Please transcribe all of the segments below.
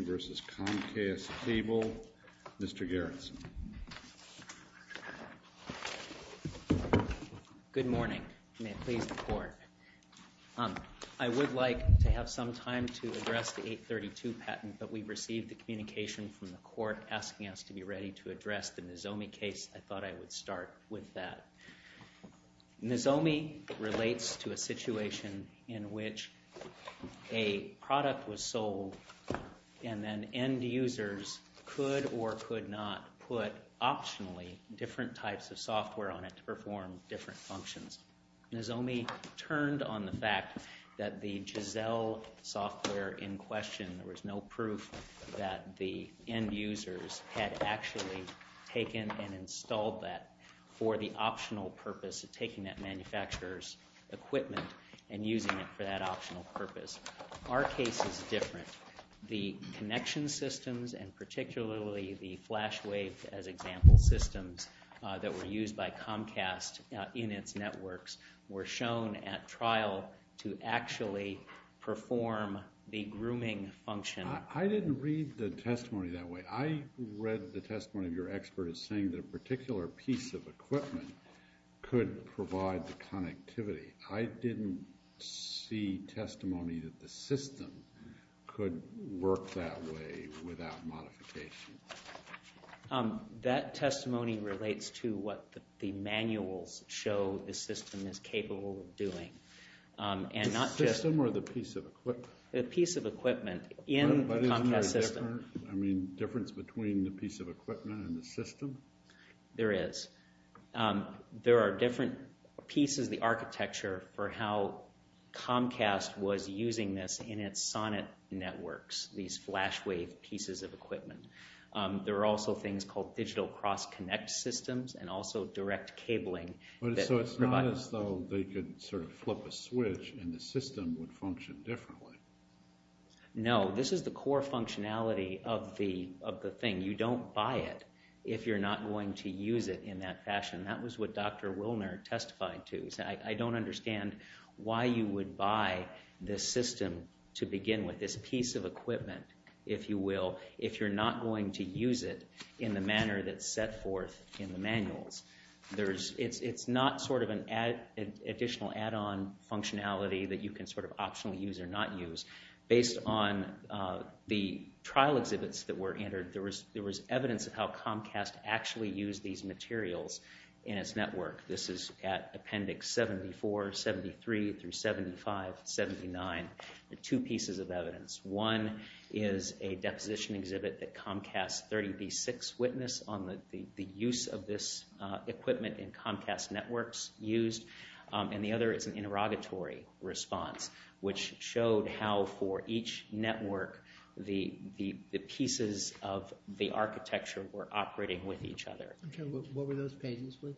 Comcast Cable. Mr. Garrison. Good morning. May it please the Court. I would like to have some time to address the 832 patent, but we've received the communication from the Court asking us to be ready to address the Nozomi case. I thought I would start with that. Nozomi relates to a situation in which a product was sold and then end users could or could not put optionally different types of software on it to perform different functions. Nozomi turned on the fact that the Giselle software in question, there was no proof that the end users, equipment, and using it for that optional purpose. Our case is different. The connection systems and particularly the flash wave as example systems that were used by Comcast in its networks were shown at trial to actually perform the grooming function. I didn't read the testimony that way. I read the testimony of your expert as saying that a particular piece of equipment could provide the connectivity. I didn't see testimony that the system could work that way without modification. That testimony relates to what the manuals show the system is capable of doing. The system or the piece of equipment? The piece of equipment in the Comcast system. But isn't there a difference between the piece of equipment and the system? There is. There are different pieces of the architecture for how Comcast was using this in its sonnet networks, these flash wave pieces of equipment. There are also things called digital cross connect systems and also direct cabling. So it's not as though they could sort of flip a switch and the system would function differently. No, this is the core functionality of the thing. You don't buy it if you're not going to use it in that fashion. That was what Dr. Wilner testified to. He said, I don't understand why you would buy this system to begin with, this piece of equipment, if you will, if you're not going to use it in the manner that's set forth in the manuals. It's not sort of an additional add-on functionality that you can sort of optionally use or not use. Based on the trial exhibits that were entered, there was evidence of how Comcast actually used these materials in its network. This is at Appendix 74, 73, through 75, 79. Two pieces of evidence. One is a deposition exhibit that Comcast 30B6 witnessed on the use of this equipment in Comcast networks used, and the other is an interrogatory response, which showed how for each network the pieces of the architecture were operating with each other. Okay, what were those pages, please?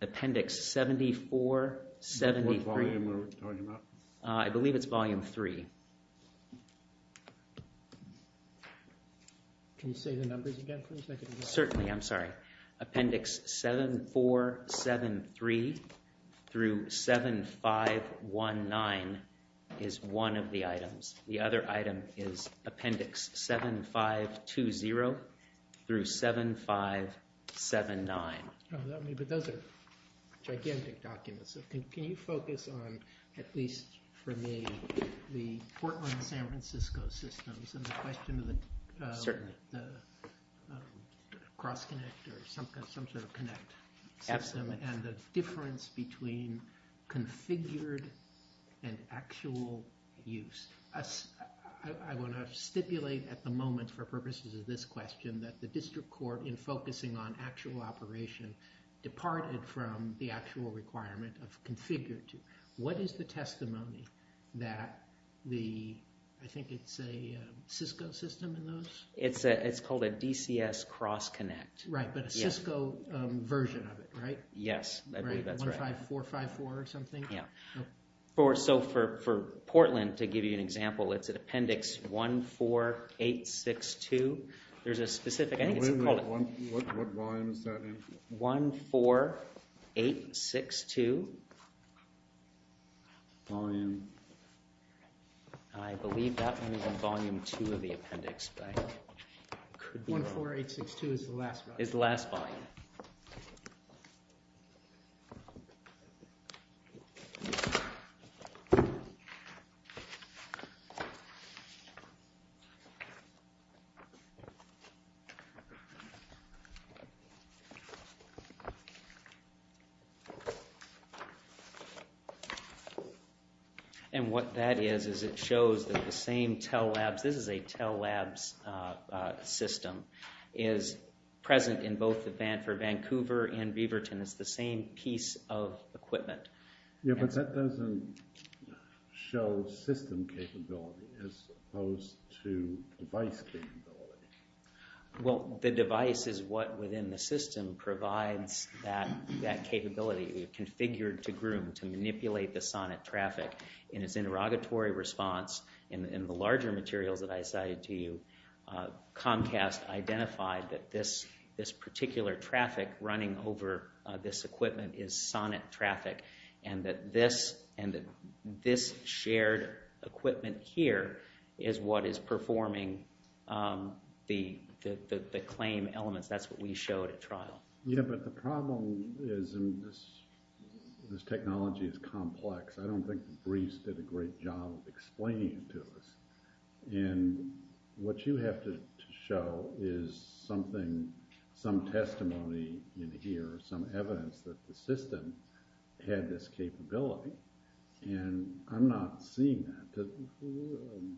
Appendix 74, 73. What volume are we talking about? I believe it's volume three. Can you say the numbers again, please? Certainly, I'm sorry. Appendix 74, 73 through 75, 19 is one of the items. The other item is Appendix 75, 20 through 75, 79. But those are gigantic documents. Can you focus on, at least for me, the Portland-San Juan cross-connect or some sort of connect system and the difference between configured and actual use? I want to stipulate at the moment for purposes of this question that the district court, in focusing on actual operation, departed from the actual requirement of configured. What is the testimony that the, I think it's a Cisco system in those? It's called a DCS cross-connect. Right, but a Cisco version of it, right? Yes, I believe that's right. Right, 15454 or something? Yeah. So for Portland, to give you an example, it's an Appendix 14862. There's a specific I think it's called... What volume is that in? 14862. Volume? I believe that one is in Volume 2 of the Appendix, but it could be... 14862 is the last volume. Is the last volume. And what that is, is it shows that the same Tell Labs, this is a Tell Labs system, is present in both for Vancouver and Beaverton. It's the same piece of equipment. Yeah, but that doesn't show system capability as opposed to device capability. Well, the device is what, within the system, provides that capability. You configured to manipulate the SONET traffic. In its interrogatory response, in the larger materials that I cited to you, Comcast identified that this particular traffic running over this equipment is SONET traffic, and that this shared equipment here is what is performing the claim elements. Yeah, but the problem is this technology is complex. I don't think the briefs did a great job of explaining it to us. And what you have to show is something, some testimony in here, some evidence that the system had this capability. And I'm not seeing that,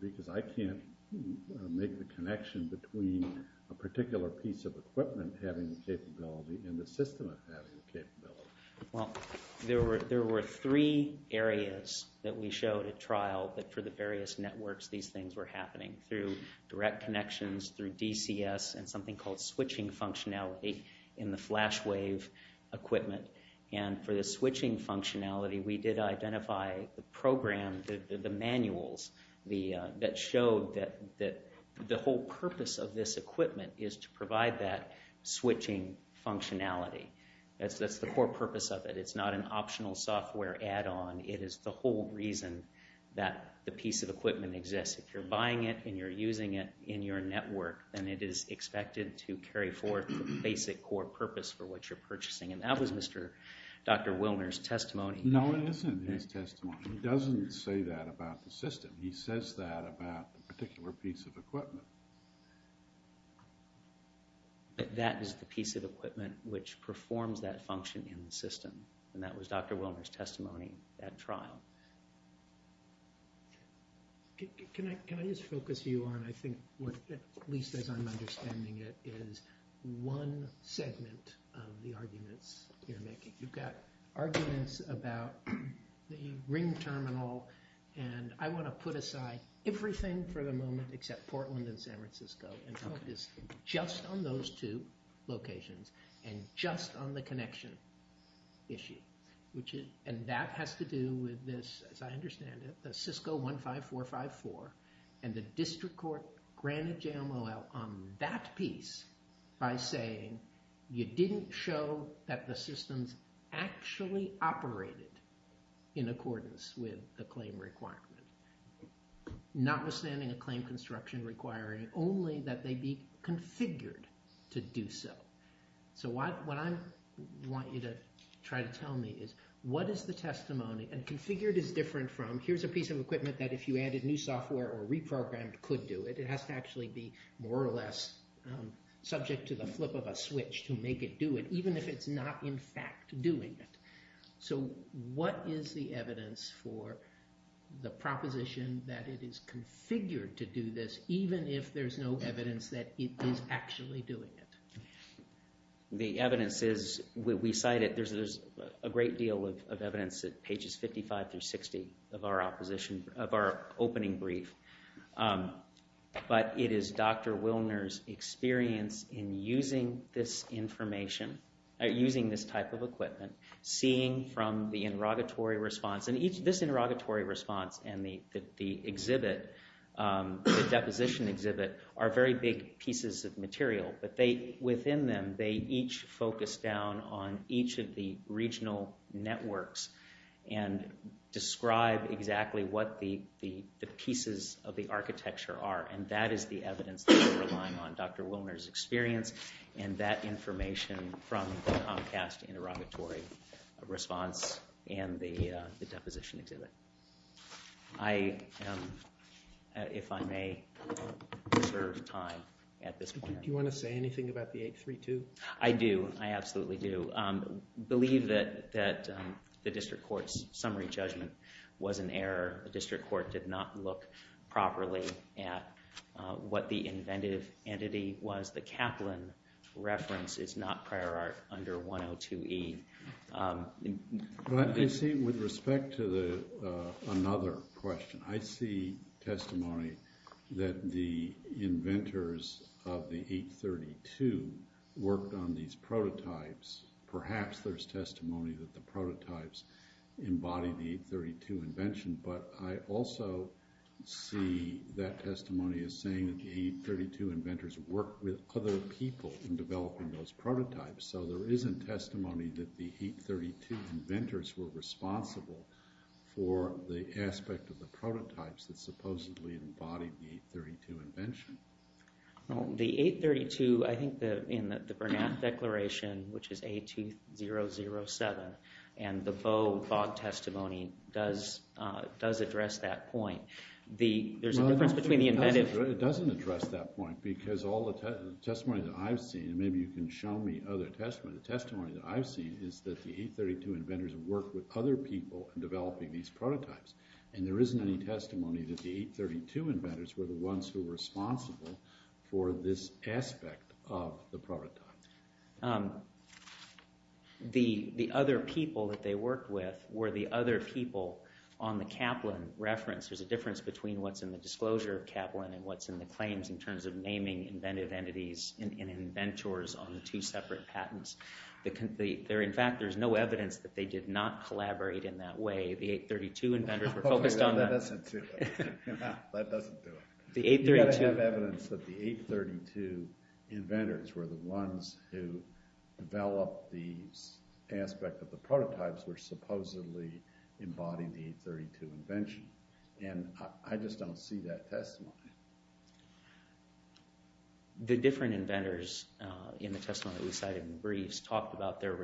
because I can't make the connection between a particular piece of equipment having the capability and the system having the capability. Well, there were three areas that we showed at trial that for the various networks these things were happening, through direct connections, through DCS, and something called switching functionality in the flash wave equipment. And for the switching functionality, we did the whole purpose of this equipment is to provide that switching functionality. That's the core purpose of it. It's not an optional software add-on. It is the whole reason that the piece of equipment exists. If you're buying it and you're using it in your network, then it is expected to carry forth the basic core purpose for what you're purchasing. And that was Dr. Wilner's testimony. No, it isn't his testimony. He doesn't say that about the system. He says that about the particular piece of equipment. But that is the piece of equipment which performs that function in the system. And that was Dr. Wilner's testimony at trial. Can I just focus you on, I think, at least as I'm understanding it, is one segment of the arguments you're making. You've got arguments about the ring terminal, and I want to put aside everything for the moment except Portland and San Francisco, and focus just on those two locations, and just on the connection issue. And that has to do with this, as I understand it, the Cisco 15454, and the district court granted JMOL on that piece by saying you didn't show that the systems actually operated in accordance with the claim requirement. Notwithstanding a claim construction requirement, only that they be configured to do so. So what I want you to try to tell me is, what is the testimony, and configured is different from, here's a piece of equipment that if you added new software or reprogrammed could do it, it has to actually be more or less subject to the flip of a switch to make it do it, even if it's not in fact doing it. So what is the evidence for the proposition that it is configured to do this, even if there's no evidence that it is actually doing it? The evidence is, we cite it, there's a great deal of evidence at pages 55 through 60 of our opposition, of our opening brief. But it is Dr. Wilner's experience in using this information, using this type of equipment, seeing from the interrogatory response, and this interrogatory response and the exhibit, the deposition exhibit, are very big pieces of material, but within them they each focus down on each of the regional networks and describe exactly what the pieces of the architecture are. And that is the evidence that we're relying on, Dr. Wilner's experience, and that information from the Comcast interrogatory response and the deposition exhibit. I, if I may, reserve time at this point. Do you want to say anything about the 832? I do, I absolutely do. I believe that the District Court's summary judgment was an error. The District Court did not look properly at what the inventive entity was. The Kaplan reference is not prior art under 102E. I see, with respect to another question, I see testimony that the inventors of the 832 worked on these prototypes. Perhaps there's testimony that the prototypes embodied the 832 invention, but I also see that testimony as saying that the 832 inventors worked with other people in developing those prototypes. So there isn't testimony that the 832 inventors were responsible for the aspect of the prototypes that supposedly embodied the 832 invention. Well, the 832, I think in the Bernat Declaration, which is A2007, and the Bowe-Bogg testimony does address that point. There's a difference between the inventive... No, it doesn't address that point, because all the testimony that I've seen, and maybe you can show me other testimony, the testimony that I've seen is that the 832 inventors worked with other people in developing these prototypes. And there isn't any testimony that the 832 inventors were the ones who were responsible for this aspect of the prototypes. The other people that they worked with were the other people on the Kaplan reference. There's a difference between what's in the disclosure of Kaplan and what's in the claims in terms of naming inventive entities and inventors on the two separate patents. In fact, there's no evidence that they did not collaborate in that way. The 832 inventors were focused on that. That doesn't do it. The 832... You've got to have evidence that the 832 inventors were the ones who developed the aspect of the prototypes which supposedly embodied the 832 invention. And I just don't see that testimony. The different inventors in the testimony that we cited in the briefs talked about their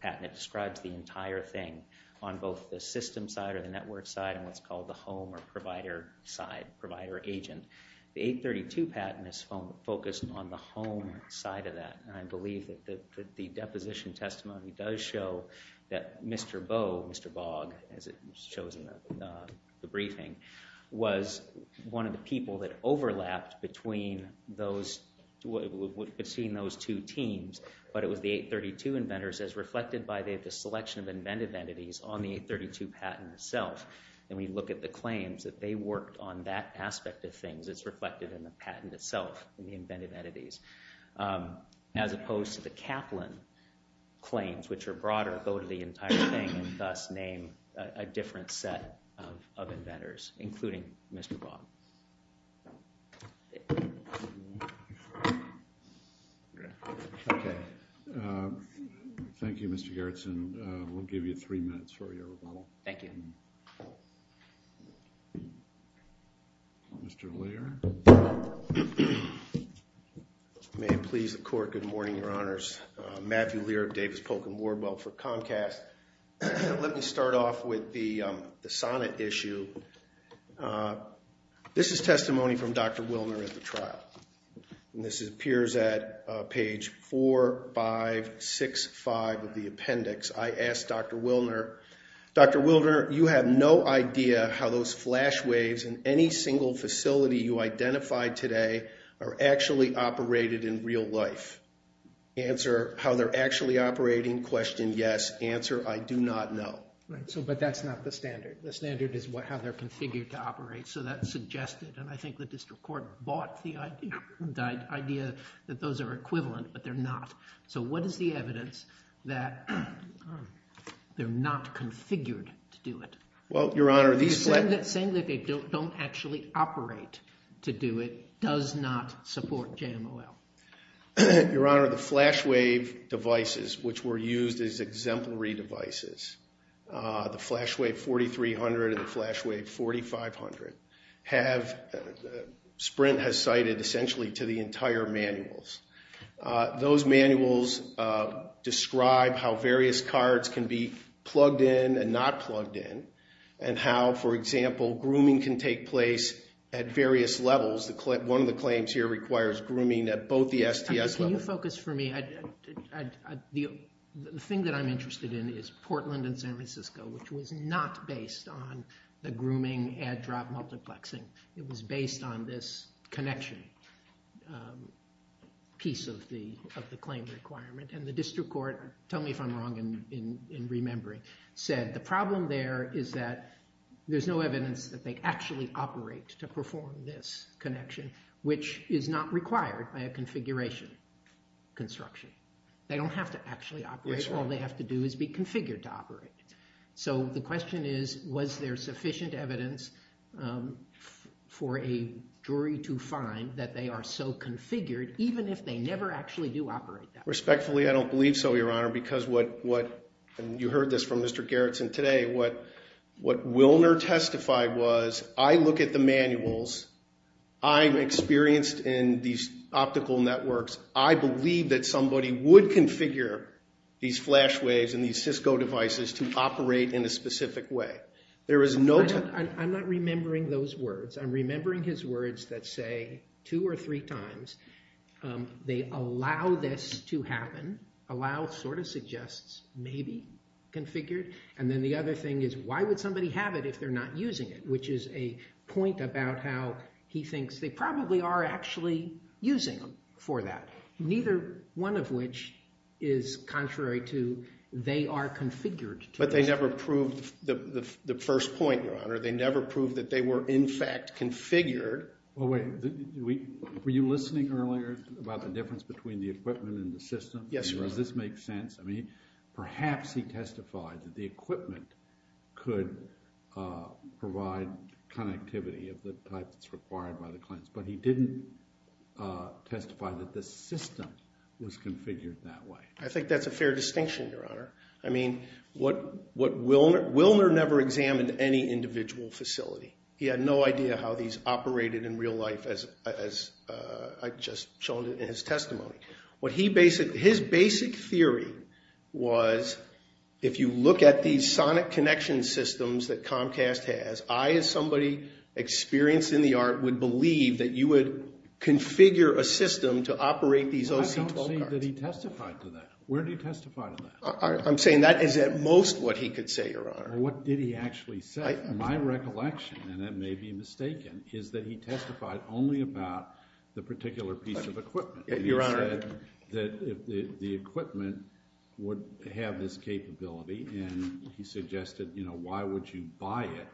patent that describes the entire thing on both the system side or the network side, and what's called the home or provider side, provider agent. The 832 patent is focused on the home side of that. And I believe that the deposition testimony does show that Mr. Boe, Mr. Bog, as it shows in the briefing, was one of the people that overlapped between those, between those two teams, but it was the 832 inventors as reflected by the selection of inventive entities on the 832 patent itself. And when you look at the claims that they worked on that aspect of things, it's reflected in the patent itself, in the inventive entities. As opposed to the Kaplan claims, which are broader, go to the entire thing, and thus name a different set of inventors, including Mr. Bog. Okay. Thank you, Mr. Garretson. We'll give you three minutes for your rebuttal. Thank you. Mr. Lear. May it please the Court, good morning, Your Honors. Matthew Lear of Davis Polk & Wardwell for Comcast. Let me start off with the sonnet issue. This is testimony from Dr. Wilner at the trial. And this appears at page 4, 5, 6, 5 of the appendix. I asked Dr. Wilner, Dr. Wilner, you have no idea how those flash waves in any single facility you identified today are actually operated in real life. Answer, how they're actually operating, question yes. Answer, I do not know. Right. So, but that's not the standard. The standard is how they're configured to operate. So that suggested, and I think the district court bought the idea that those are equivalent, but they're not. So what is the evidence that they're not configured to do it? Well, Your Honor, these... does not support JMOL. Your Honor, the flash wave devices, which were used as exemplary devices, the Flash Wave 4300 and the Flash Wave 4500 have... Sprint has cited essentially to the entire manuals. Those manuals describe how various cards can be plugged in and not plugged in, and how, for example, grooming can take place at various levels. One of the claims here requires grooming at both the STS levels. Can you focus for me? The thing that I'm interested in is Portland and San Francisco, which was not based on the grooming add-drop multiplexing. It was based on this connection piece of the claim requirement. And the district court, tell me if I'm wrong in remembering, said the problem there is that there's no evidence that they actually operate to perform this connection, which is not required by a configuration construction. They don't have to actually operate. All they have to do is be configured to operate. So the question is, was there sufficient evidence for a jury to find that they are so configured, even if they never actually do operate that? Respectfully, I don't believe so, Your Honor, because what, and you heard this from Mr. Gerretsen today, what Wilner testified was, I look at the manuals, I'm experienced in these optical networks, I believe that somebody would configure these flash waves and these Cisco devices to operate in a specific way. There is no... I'm not remembering those words. I'm remembering his words that say, two or three times, they allow this to happen. Allow sort of suggests maybe configured. And then the other thing is, why would somebody have it if they're not using it? Which is a point about how he thinks they probably are actually using them for that. Neither one of which is contrary to they are configured. But they never proved the first point, Your Honor. They never proved that they were in fact configured. Were you listening earlier about the difference between the equipment and the system? Yes, Your Honor. Does this make sense? I mean, perhaps he testified that the equipment could provide connectivity of the type that's required by the clients, but he didn't testify that the system was configured that way. I think that's a fair distinction, Your Honor. I mean, what Wilner... Wilner never examined any individual facility. He had no idea how these operated in real life as I've just shown in his testimony. His basic theory was, if you look at these sonic connection systems that Comcast has, I as somebody experienced in the art would believe that you would configure a system to operate these OC12 cards. I don't see that he testified to that. Where did he testify to that? I'm saying that is at most what he could say, Your Honor. What did he actually say? My recollection, and that may be mistaken, is that he testified only about the particular piece of equipment. He said that the equipment would have this capability, and he suggested, you know, why would you buy it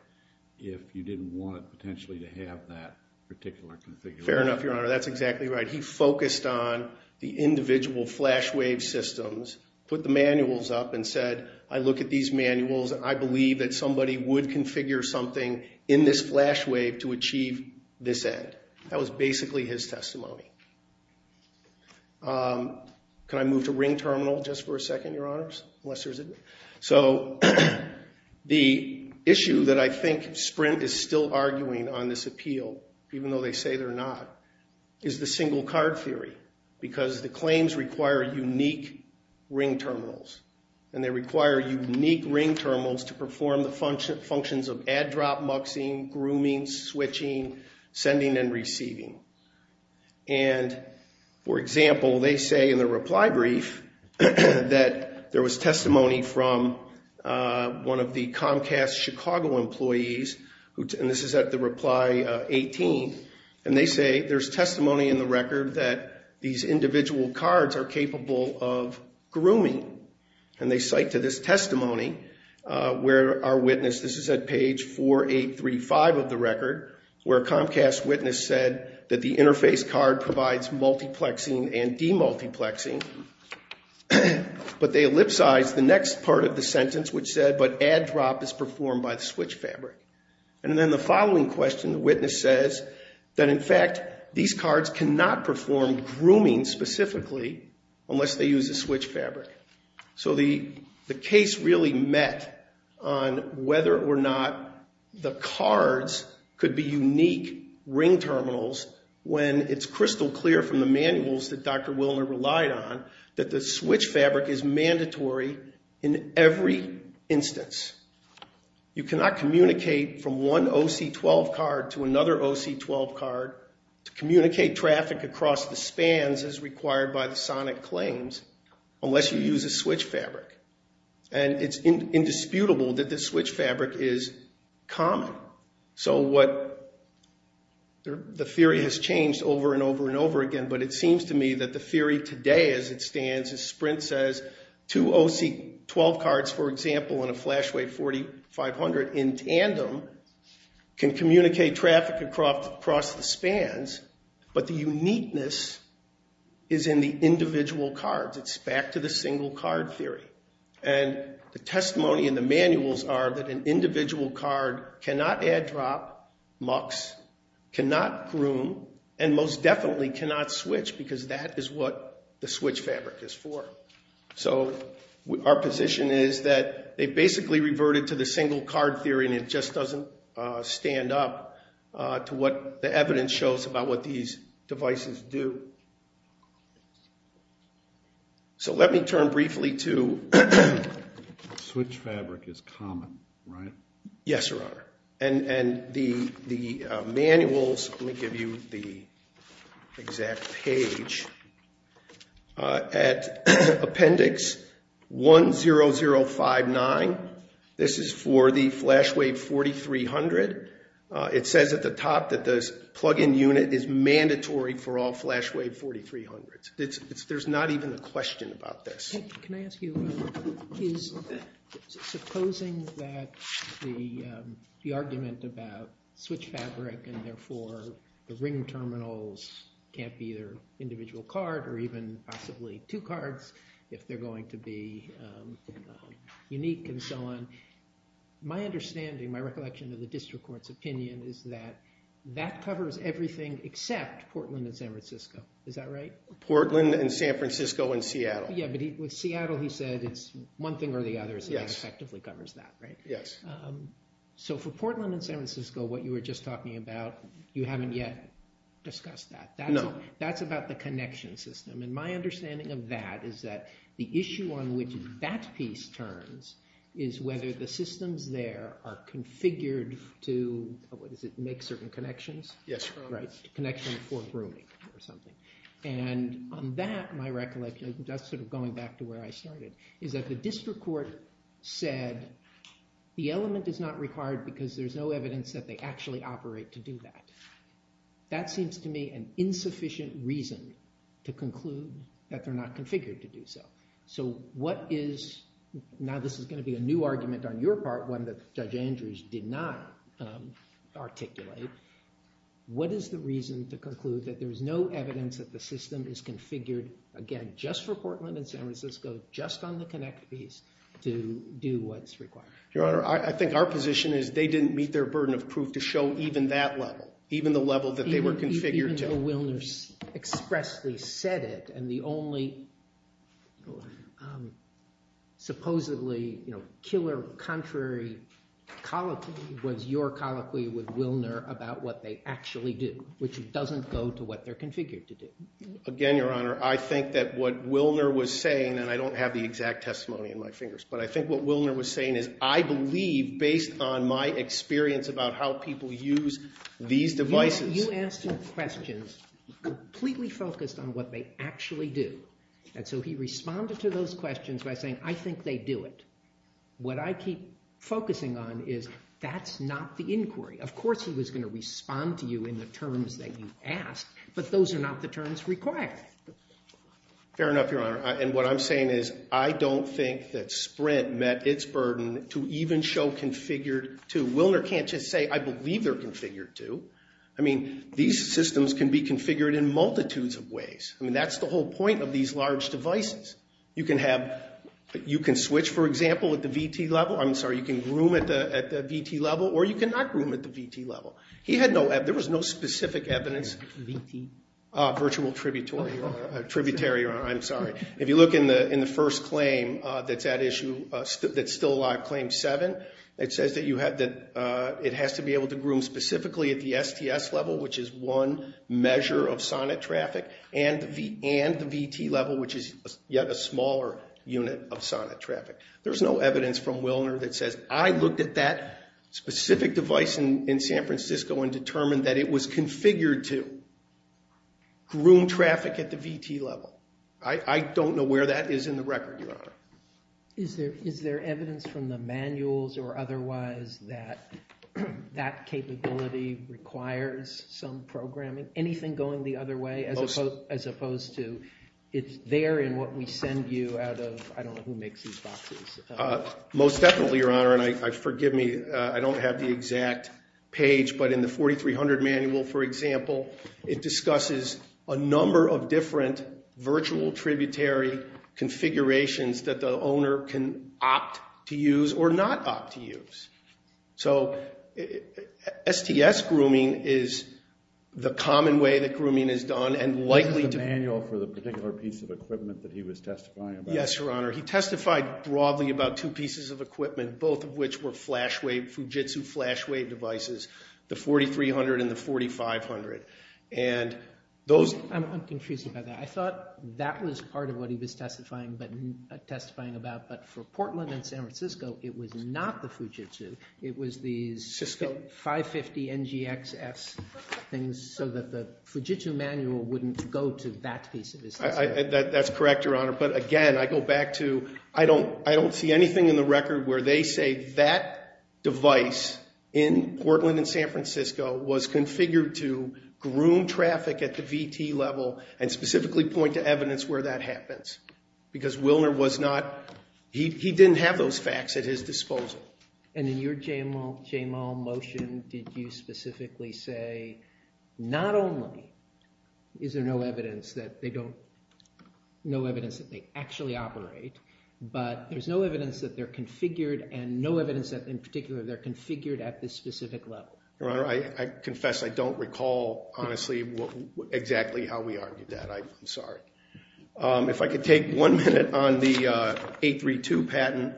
if you didn't want it potentially to have that particular configuration? Fair enough, Your Honor. That's exactly right. He focused on the individual flash wave systems, put the manuals up, and said, I look at these manuals, and I believe that somebody would configure something in this flash wave to achieve this end. That was basically his testimony. Can I move to ring terminal just for a second, Your Honors? Unless there's a... So, the issue that I think Sprint is still arguing on this appeal, even though they say they're not, is the single card theory, because the claims require unique ring terminals. And they require unique ring terminals to perform the functions of add, drop, muxing, grooming, switching, sending, and receiving. And, for example, they say in the reply brief, that there was testimony from one of the Comcast Chicago employees, and this is at the reply 18, and they say, there's testimony in the record that these individual cards are capable of grooming. And they cite to this testimony where our witness, this is at page 4835 of the record, where a Comcast witness said that the interface card provides multiplexing and demultiplexing, but add, drop is performed by the switch fabric. And then the following question, the witness says, that in fact, these cards cannot perform grooming specifically unless they use a switch fabric. So the case really met on whether or not the cards could be unique ring terminals when it's crystal clear from the manuals that Dr. Willner relied on, that the switch fabric is mandatory in every instance. You cannot communicate from one OC12 card to another OC12 card, to communicate traffic across the spans as required by the sonic claims, unless you use a switch fabric. And it's indisputable that the switch fabric is common. So what, the theory has changed over and over and over again, but it seems to me that the theory today as it stands is Sprint says, two OC12 cards, for example, in a Flashway 4500 in tandem, can communicate traffic across the spans, but the uniqueness is in the individual cards. It's back to the single card theory. And the testimony in the manuals are that an individual card cannot add, drop, mux, cannot groom, and most definitely cannot switch, because that is what the switch fabric is for. So our position is that they basically reverted to the single card theory, and it just doesn't stand up to what the evidence shows about what these devices do. So let me turn briefly to... Switch fabric is common, right? Yes, Your Honor. And the manuals, let me give you the exact page, at appendix 10059. This is for the Flashway 4300. It says at the top that this plug-in unit is mandatory for all Flashway 4300s. There's not even a question about this. Can I ask you, supposing that the argument about switch fabric and therefore the ring terminals can't be either individual card or even possibly two cards if they're going to be unique and so on, my understanding, my recollection of the district court's opinion, is that that covers everything except Portland and San Francisco. Is that right? Portland and San Francisco and Seattle. Yeah, but with Seattle he said it's one thing or the other, so that effectively covers that, right? Yes. So for Portland and San Francisco, what you were just talking about, you haven't yet discussed that. No. That's about the connection system, and my understanding of that is that the issue on which that piece turns is whether the systems there are configured to, what is it, make certain connections? Yes, Your Honor. Connection for grooming or something. And on that, my recollection, just sort of going back to where I started, is that the district court said the element is not required because there's no evidence that they actually operate to do that. That seems to me an insufficient reason to conclude that they're not configured to do so. So what is, now this is going to be a new argument on your part, one that Judge Andrews did not articulate, what is the reason to conclude that there's no evidence that the system is configured, again, just for Portland and San Francisco, just on the connect piece, to do what's required? Your Honor, I think our position is they didn't meet their burden of proof to show even that level, even the level that they were configured to. Even though Wilner expressly said it, and the only supposedly, you know, killer contrary colloquy was your colloquy with Wilner about what they actually do, which doesn't go to what they're configured to do. Again, Your Honor, I think that what Wilner was saying, and I don't have the exact testimony in my fingers, but I think what Wilner was saying is, I believe, based on my experience about how people use these devices... You asked him questions completely focused on what they actually do. And so he responded to those questions by saying, I think they do it. What I keep focusing on is that's not the inquiry. Of course he was going to respond to you in the terms that you asked, but those are not the terms required. Fair enough, Your Honor. And what I'm saying is I don't think that Sprint met its burden to even show configured to. Wilner can't just say, I believe they're configured to. I mean, these systems can be configured in multitudes of ways. I mean, that's the whole point of these large devices. You can have... You can switch, for example, at the VT level. I'm sorry, you can groom at the VT level, or you can not groom at the VT level. He had no... There was no specific evidence... VT? Virtual tributary, Your Honor. I'm sorry. If you look in the first claim that's at issue, that's still alive, Claim 7, it says that it has to be able to groom specifically at the STS level, which is one measure of sonnet traffic, and the VT level, which is yet a smaller unit of sonnet traffic. There's no evidence from Wilner that says, I looked at that specific device in San Francisco and determined that it was configured to groom traffic at the VT level. I don't know where that is in the record, Your Honor. Is there evidence from the manuals or otherwise that that capability requires some programming? Anything going the other way, as opposed to... It's there in what we send you out of... I don't know who makes these boxes. Most definitely, Your Honor, and forgive me, I don't have the exact page, but in the 4300 manual, for example, it discusses a number of different virtual tributary configurations that the owner can opt to use or not opt to use. So STS grooming is the common way that grooming is done and likely to... Is there a manual for the particular piece of equipment that he was testifying about? Yes, Your Honor. He testified broadly about two pieces of equipment, both of which were Fujitsu flashwave devices, the 4300 and the 4500. And those... I'm confused about that. I thought that was part of what he was testifying about, but for Portland and San Francisco, it was not the Fujitsu. It was these 550 NGXS things That's correct, Your Honor. But again, I go back to... I don't see anything in the record where they say that device in Portland and San Francisco was configured to groom traffic at the VT level and specifically point to evidence where that happens because Willner was not... He didn't have those facts at his disposal. And in your JML motion, did you specifically say not only is there no evidence that they don't... There's no evidence that they actually operate, but there's no evidence that they're configured and no evidence that, in particular, they're configured at this specific level? Your Honor, I confess I don't recall, honestly, exactly how we argued that. I'm sorry. If I could take one minute on the 832 patent.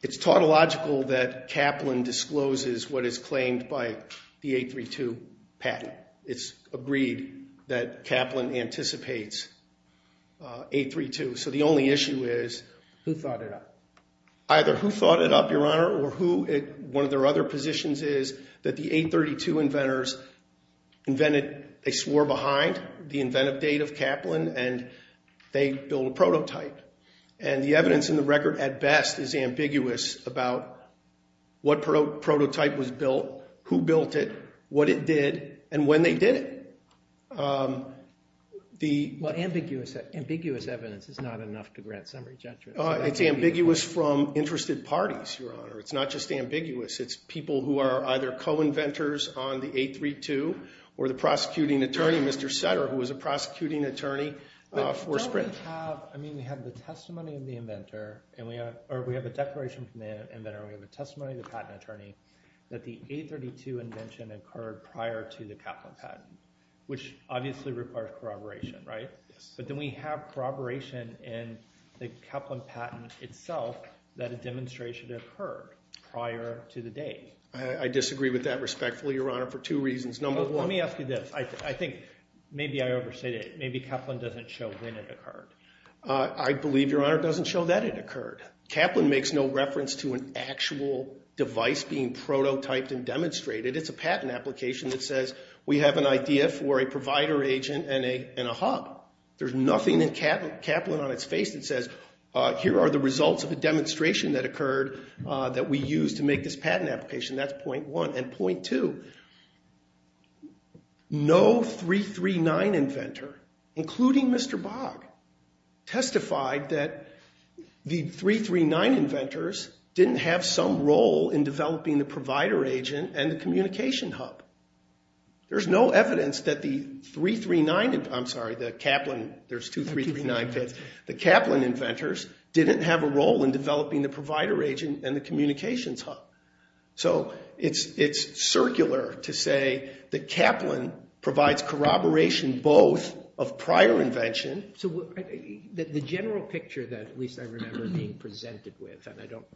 It's tautological that Kaplan discloses what is claimed by the 832 patent. It's agreed that Kaplan anticipates 832. So the only issue is... Who thought it up? Either who thought it up, Your Honor, or who... One of their other positions is that the 832 inventors invented... They swore behind the inventive date of Kaplan and they built a prototype. And the evidence in the record, at best, is ambiguous about what prototype was built, who built it, what it did, and when they did it. The... Well, ambiguous evidence is not enough to grant summary judgment. It's ambiguous from interested parties, Your Honor. It's not just ambiguous. It's people who are either co-inventors on the 832 or the prosecuting attorney, Mr. Setter, who was a prosecuting attorney for Sprint. Don't we have... I mean, we have the testimony of the inventor or we have a declaration from the inventor or we have a testimony of the patent attorney that the 832 invention occurred prior to the Kaplan patent, which obviously requires corroboration, right? Yes. But then we have corroboration in the Kaplan patent itself that a demonstration occurred prior to the date. I disagree with that respectfully, Your Honor, for two reasons. Number one... Let me ask you this. I think... Maybe I overstated it. I believe, Your Honor, it doesn't show that it occurred. Kaplan makes no reference to an actual device being prototyped and demonstrated. It's a patent application that says, we have an idea for a provider agent and a hub. There's nothing in Kaplan on its face that says, here are the results of a demonstration that occurred that we used to make this patent application. That's point one. And point two... No 339 inventor, including Mr. Bogg, testified that the 339 inventors didn't have some role in developing the provider agent and the communication hub. There's no evidence that the 339... I'm sorry, the Kaplan... There's two 339 pits. The Kaplan inventors didn't have a role in developing the provider agent and the communications hub. So it's circular to say that Kaplan provides corroboration both of prior invention... The general picture that at least I remember being presented with, and I don't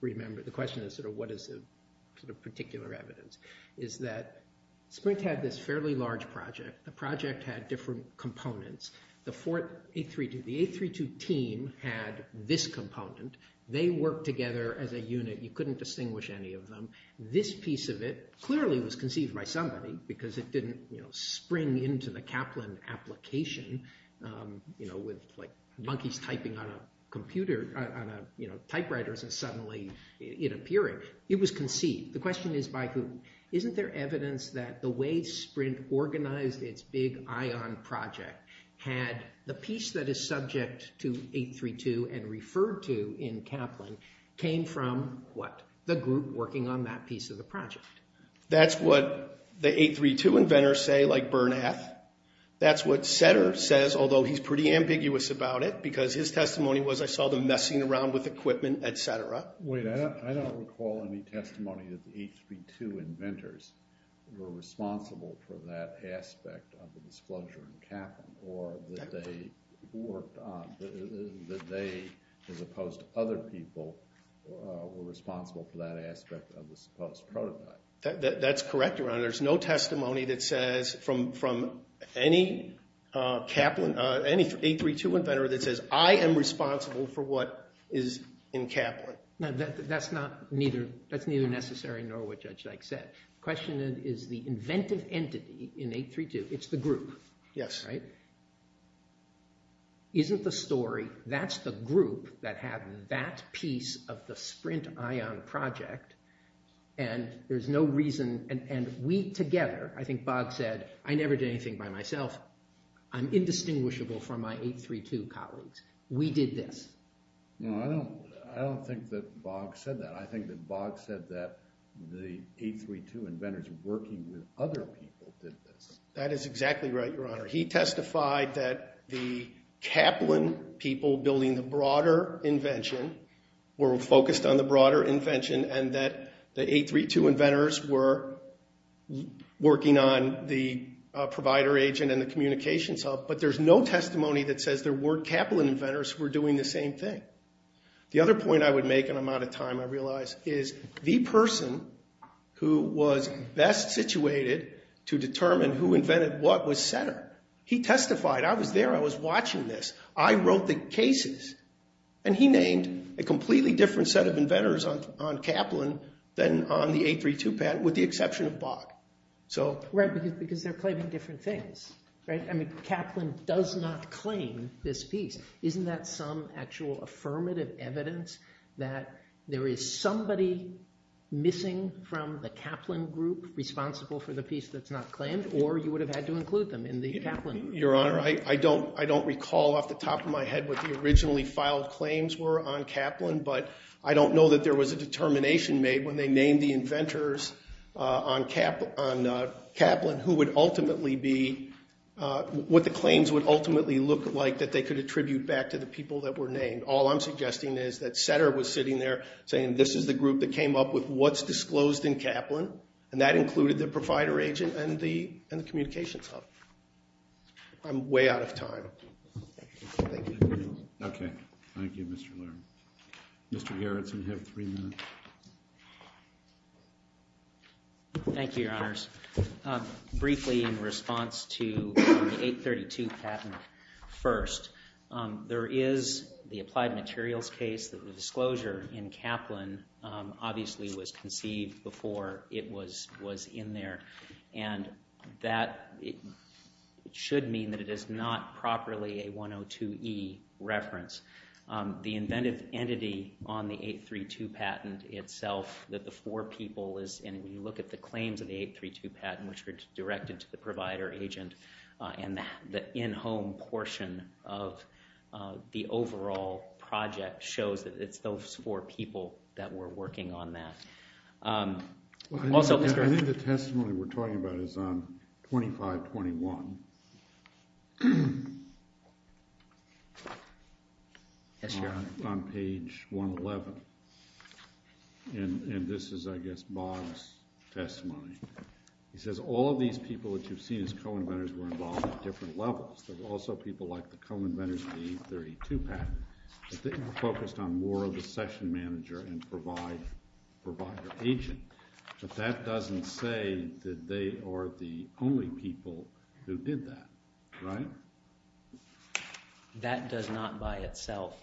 remember... The question is, what is the particular evidence, is that Sprint had this fairly large project. The project had different components. The A32 team had this component. They worked together as a unit. You couldn't distinguish any of them. This piece of it clearly was conceived by somebody because it didn't spring into the Kaplan application with monkeys typing on typewriters and suddenly it appearing. It was conceived. The question is by who. Isn't there evidence that the way Sprint organized its big ION project had... The piece that is subject to 832 and referred to in Kaplan came from what? The group working on that piece of the project. That's what the 832 inventors say, like Bernath. That's what Setter says, although he's pretty ambiguous about it because his testimony was, I saw them messing around with equipment, etc. Wait, I don't recall any testimony that the 832 inventors were responsible for that aspect of the disclosure in Kaplan or that they worked on... That they, as opposed to other people, were responsible for that aspect of the supposed prototype. That's correct, Your Honor. There's no testimony that says from any 832 inventor that says I am responsible for what is in Kaplan. That's neither necessary nor what Judge Dyke said. The question is the inventive entity in 832. It's the group, right? Yes. Isn't the story that's the group that had that piece of the Sprint Ion project and there's no reason... And we together, I think Bogg said, I never did anything by myself. I'm indistinguishable from my 832 colleagues. We did this. No, I don't think that Bogg said that. I think that Bogg said that the 832 inventors working with other people did this. That is exactly right, Your Honor. He testified that the Kaplan people building the broader invention were focused on the broader invention and that the 832 inventors were working on the provider agent and the communications hub. But there's no testimony that says there weren't Kaplan inventors who were doing the same thing. The other point I would make, and I'm out of time, I realize, is the person who was best situated to determine who invented what was center. He testified. I was there. I was watching this. I wrote the cases. And he named a completely different set of inventors on Kaplan than on the 832 patent, with the exception of Bogg. Right, because they're claiming different things. Kaplan does not claim this piece. Isn't that some actual affirmative evidence that there is somebody missing from the Kaplan group responsible for the piece that's not claimed, or you would have had to include them in the Kaplan group? Your Honor, I don't recall off the top of my head what the originally filed claims were on Kaplan, but I don't know that there was a determination made when they named the inventors on Kaplan who would ultimately be... what the claims would ultimately look like that they could attribute back to the people that were named. All I'm suggesting is that Setter was sitting there saying this is the group that came up with what's disclosed in Kaplan, and that included the provider agent and the communications hub. I'm way out of time. Thank you. Okay. Thank you, Mr. Lerner. Mr. Gerretsen, you have three minutes. Thank you, Your Honors. Briefly, in response to the 832 patent first, there is the applied materials case that the disclosure in Kaplan obviously was conceived before it was in there, and that should mean that it is not properly a 102E reference. The inventive entity on the 832 patent itself, that the four people is... and when you look at the claims of the 832 patent, which were directed to the provider agent, and the in-home portion of the overall project that shows that it's those four people that were working on that. Also, Mr. Gerretsen... I think the testimony we're talking about is on 2521. Yes, Your Honor. On page 111. And this is, I guess, Bob's testimony. He says, all of these people that you've seen as co-inventors were involved at different levels. There were also people like the co-inventors of the 832 patent. But they were focused on more of the session manager and provider agent. But that doesn't say that they are the only people who did that, right? That does not by itself...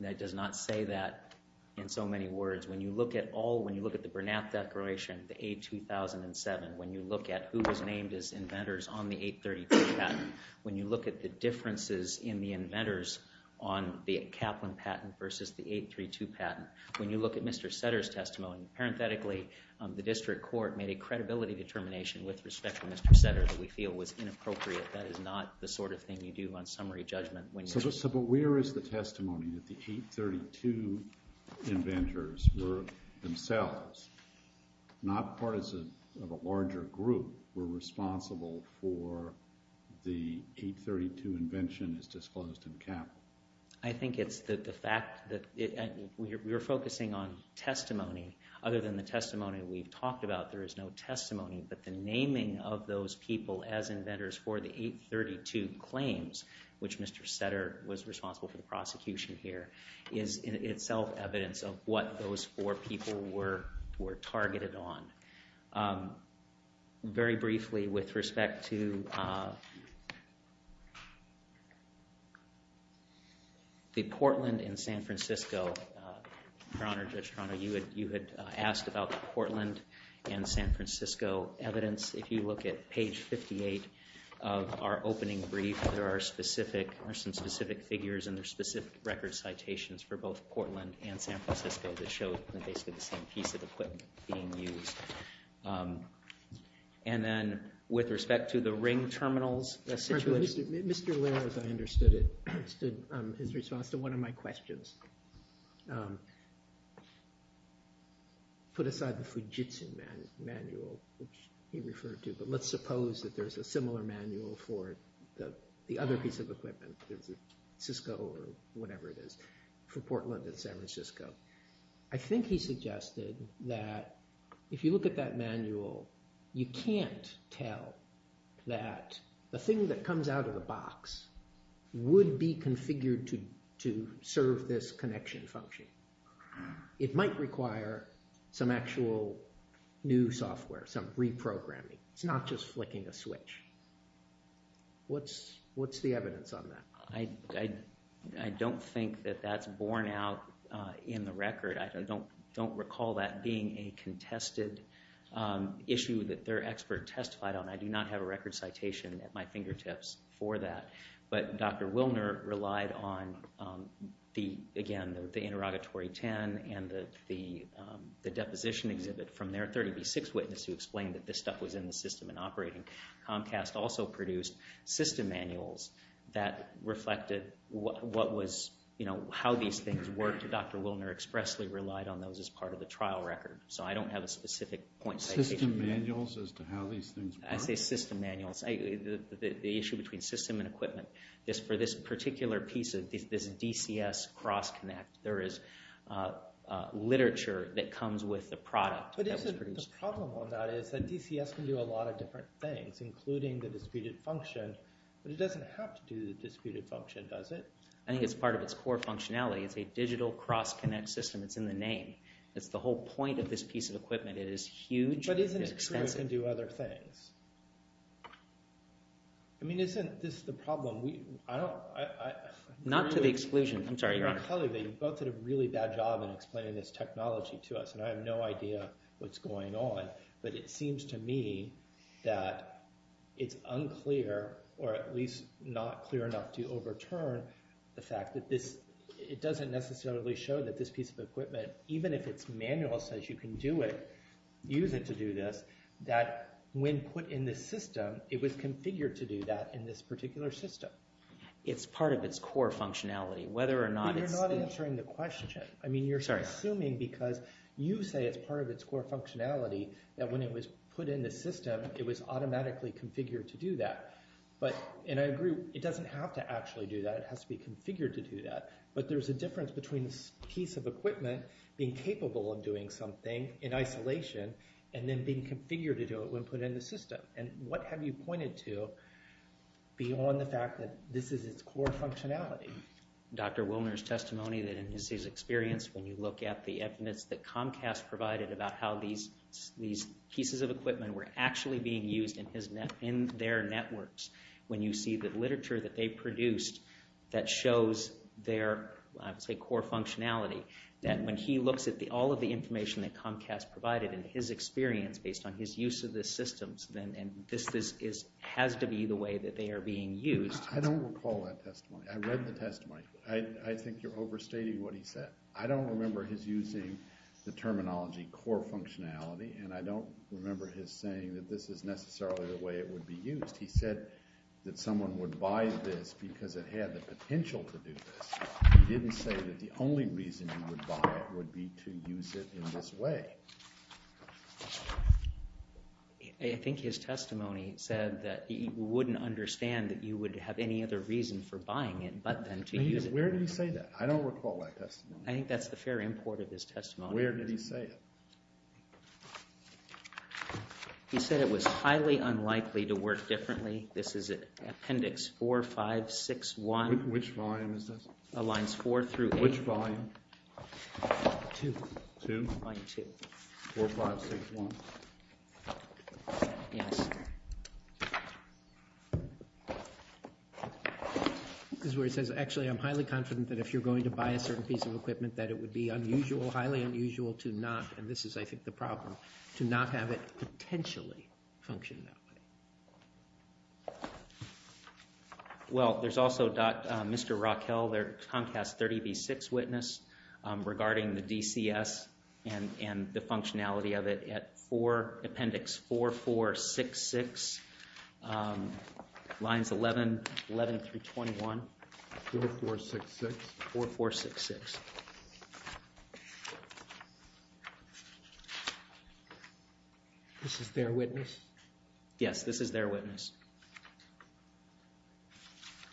that does not say that in so many words. When you look at all... when you look at the Burnett Declaration, the A2007, when you look at who was named as inventors on the 832 patent, when you look at the differences in the inventors on the Kaplan patent versus the 832 patent, when you look at Mr. Setter's testimony, parenthetically, the district court made a credibility determination with respect to Mr. Setter that we feel was inappropriate. That is not the sort of thing you do on summary judgment. But where is the testimony that the 832 inventors were themselves, not part of a larger group, were responsible for the 832 invention as disclosed in Kaplan? I think it's the fact that... we were focusing on testimony. Other than the testimony we've talked about, there is no testimony. But the naming of those people as inventors for the 832 claims, which Mr. Setter was responsible for the prosecution here, is in itself evidence of what those four people were targeted on. Very briefly, with respect to... the Portland and San Francisco, Your Honor, Judge Toronto, you had asked about the Portland and San Francisco evidence. If you look at page 58 of our opening brief, there are some specific figures and there are specific record citations for both Portland and San Francisco that show basically the same piece of equipment being used. And then with respect to the ring terminals... Mr. Laird, as I understood it, understood his response to one of my questions. Put aside the Fujitsu manual, which he referred to, but let's suppose that there's a similar manual for the other piece of equipment, Cisco or whatever it is, for Portland and San Francisco. I think he suggested that if you look at that manual, you can't tell that the thing that comes out of the box would be configured to serve this connection function. It might require some actual new software, some reprogramming. It's not just flicking a switch. What's the evidence on that? I don't think that that's borne out in the record. I don't recall that being a contested issue that their expert testified on. I do not have a record citation at my fingertips for that. But Dr. Wilner relied on, again, the interrogatory 10 and the deposition exhibit from their 30B6 witness who explained that this stuff was in the system and operating. Comcast also produced system manuals that reflected how these things worked. Dr. Wilner expressly relied on those as part of the trial record. So I don't have a specific point citation. System manuals as to how these things work? I say system manuals. The issue between system and equipment. For this particular piece, this DCS cross-connect, there is literature that comes with the product that was produced. The problem on that is that DCS can do a lot of different things, including the disputed function. But it doesn't have to do the disputed function, does it? I think it's part of its core functionality. It's a digital cross-connect system. It's in the name. It's the whole point of this piece of equipment. It is huge. But isn't it true it can do other things? I mean, isn't this the problem? Not to the exclusion. I'm sorry, Your Honor. You both did a really bad job in explaining this technology to us. And I have no idea what's going on. But it seems to me that it's unclear, or at least not clear enough to overturn, the fact that it doesn't necessarily show that this piece of equipment, even if its manual says you can do it, use it to do this, that when put in the system, it was configured to do that in this particular system. It's part of its core functionality. Whether or not it's – But you're not answering the question. I mean, you're assuming because you say it's part of its core functionality that when it was put in the system, it was automatically configured to do that. And I agree, it doesn't have to actually do that. It has to be configured to do that. But there's a difference between this piece of equipment being capable of doing something in isolation and then being configured to do it when put in the system. And what have you pointed to beyond the fact that this is its core functionality? Dr. Wilner's testimony that in his experience, when you look at the evidence that Comcast provided about how these pieces of equipment were actually being used in their networks, when you see the literature that they produced that shows their, I would say, core functionality, that when he looks at all of the information that Comcast provided and his experience based on his use of the systems, and this has to be the way that they are being used. I don't recall that testimony. I read the testimony. I think you're overstating what he said. I don't remember his using the terminology core functionality and I don't remember his saying that this is necessarily the way it would be used. He said that someone would buy this because it had the potential to do this. He didn't say that the only reason you would buy it would be to use it in this way. I think his testimony said that he wouldn't understand that you would have any other reason for buying it but then to use it. Where did he say that? I don't recall that testimony. I think that's the fair import of his testimony. Where did he say it? He said it was highly unlikely to work differently. This is Appendix 4561. Which volume is this? Lines four through eight. Which volume? Two. Two? Line two. 4561. Yes. This is where it says actually I'm highly confident that if you're going to buy a certain piece of equipment that it would be unusual, highly unusual to not, and this is I think the problem, to not have it potentially function that way. Well, there's also Mr. Raquel, their Comcast 30B6 witness regarding the DCS and the functionality of it at four, Appendix 4466, lines 11 through 21. 4466? 4466. This is their witness? Yes, this is their witness.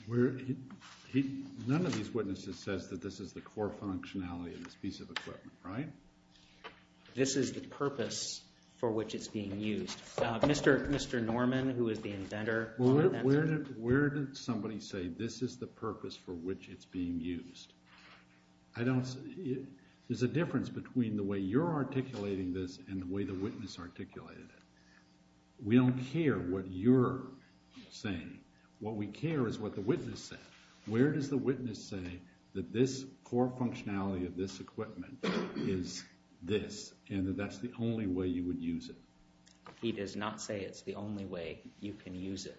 None of these witnesses says that this is the core functionality of this piece of equipment, right? This is the purpose for which it's being used. Mr. Norman, who is the inventor. Where did somebody say this is the purpose for which it's being used? There's a difference between the way you're articulating this and the way the witness articulated it. We don't care what you're saying. What we care is what the witness said. Where does the witness say that this core functionality of this equipment is this and that that's the only way you would use it? He does not say it's the only way you can use it.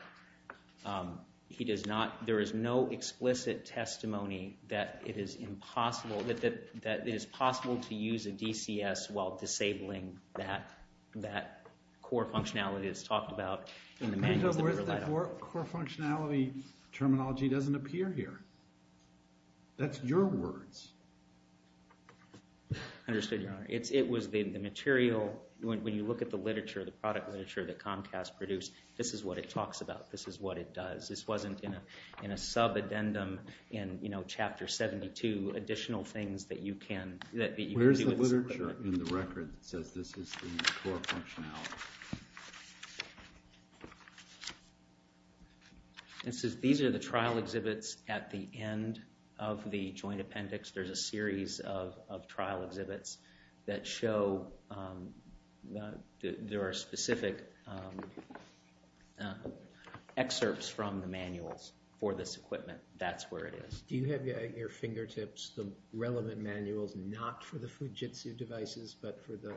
He does not, there is no explicit testimony that it is impossible, that it is possible to use a DCS while disabling that core functionality that's talked about in the manual. In other words, the core functionality terminology doesn't appear here. That's your words. Understood, Your Honor. It was the material, when you look at the literature, the product literature that Comcast produced, this is what it talks about, this is what it does. This wasn't in a sub-addendum in chapter 72, additional things that you can do with this equipment. Where's the literature in the record that says this is the core functionality? These are the trial exhibits at the end of the joint appendix. There's a series of trial exhibits that show there are specific excerpts from the manuals for this equipment. That's where it is. Do you have at your fingertips the relevant manuals not for the Fujitsu devices but for the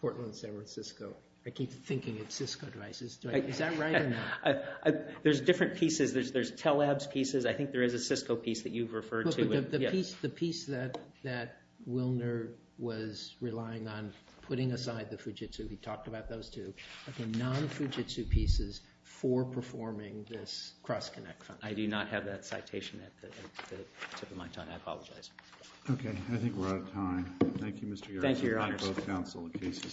Portland, San Francisco? I keep thinking it's Cisco devices. Is that right or not? There's different pieces. There's Telab's pieces. I think there is a Cisco piece that you've referred to. The piece that Wilner was relying on putting aside the Fujitsu, he talked about those two, are the non-Fujitsu pieces for performing this cross-connect function. I do not have that citation at the tip of my tongue. I apologize. Okay. I think we're out of time. Thank you, Mr. Yaroslavsky. Thank you, Your Honor. Both counsel. The case is submitted.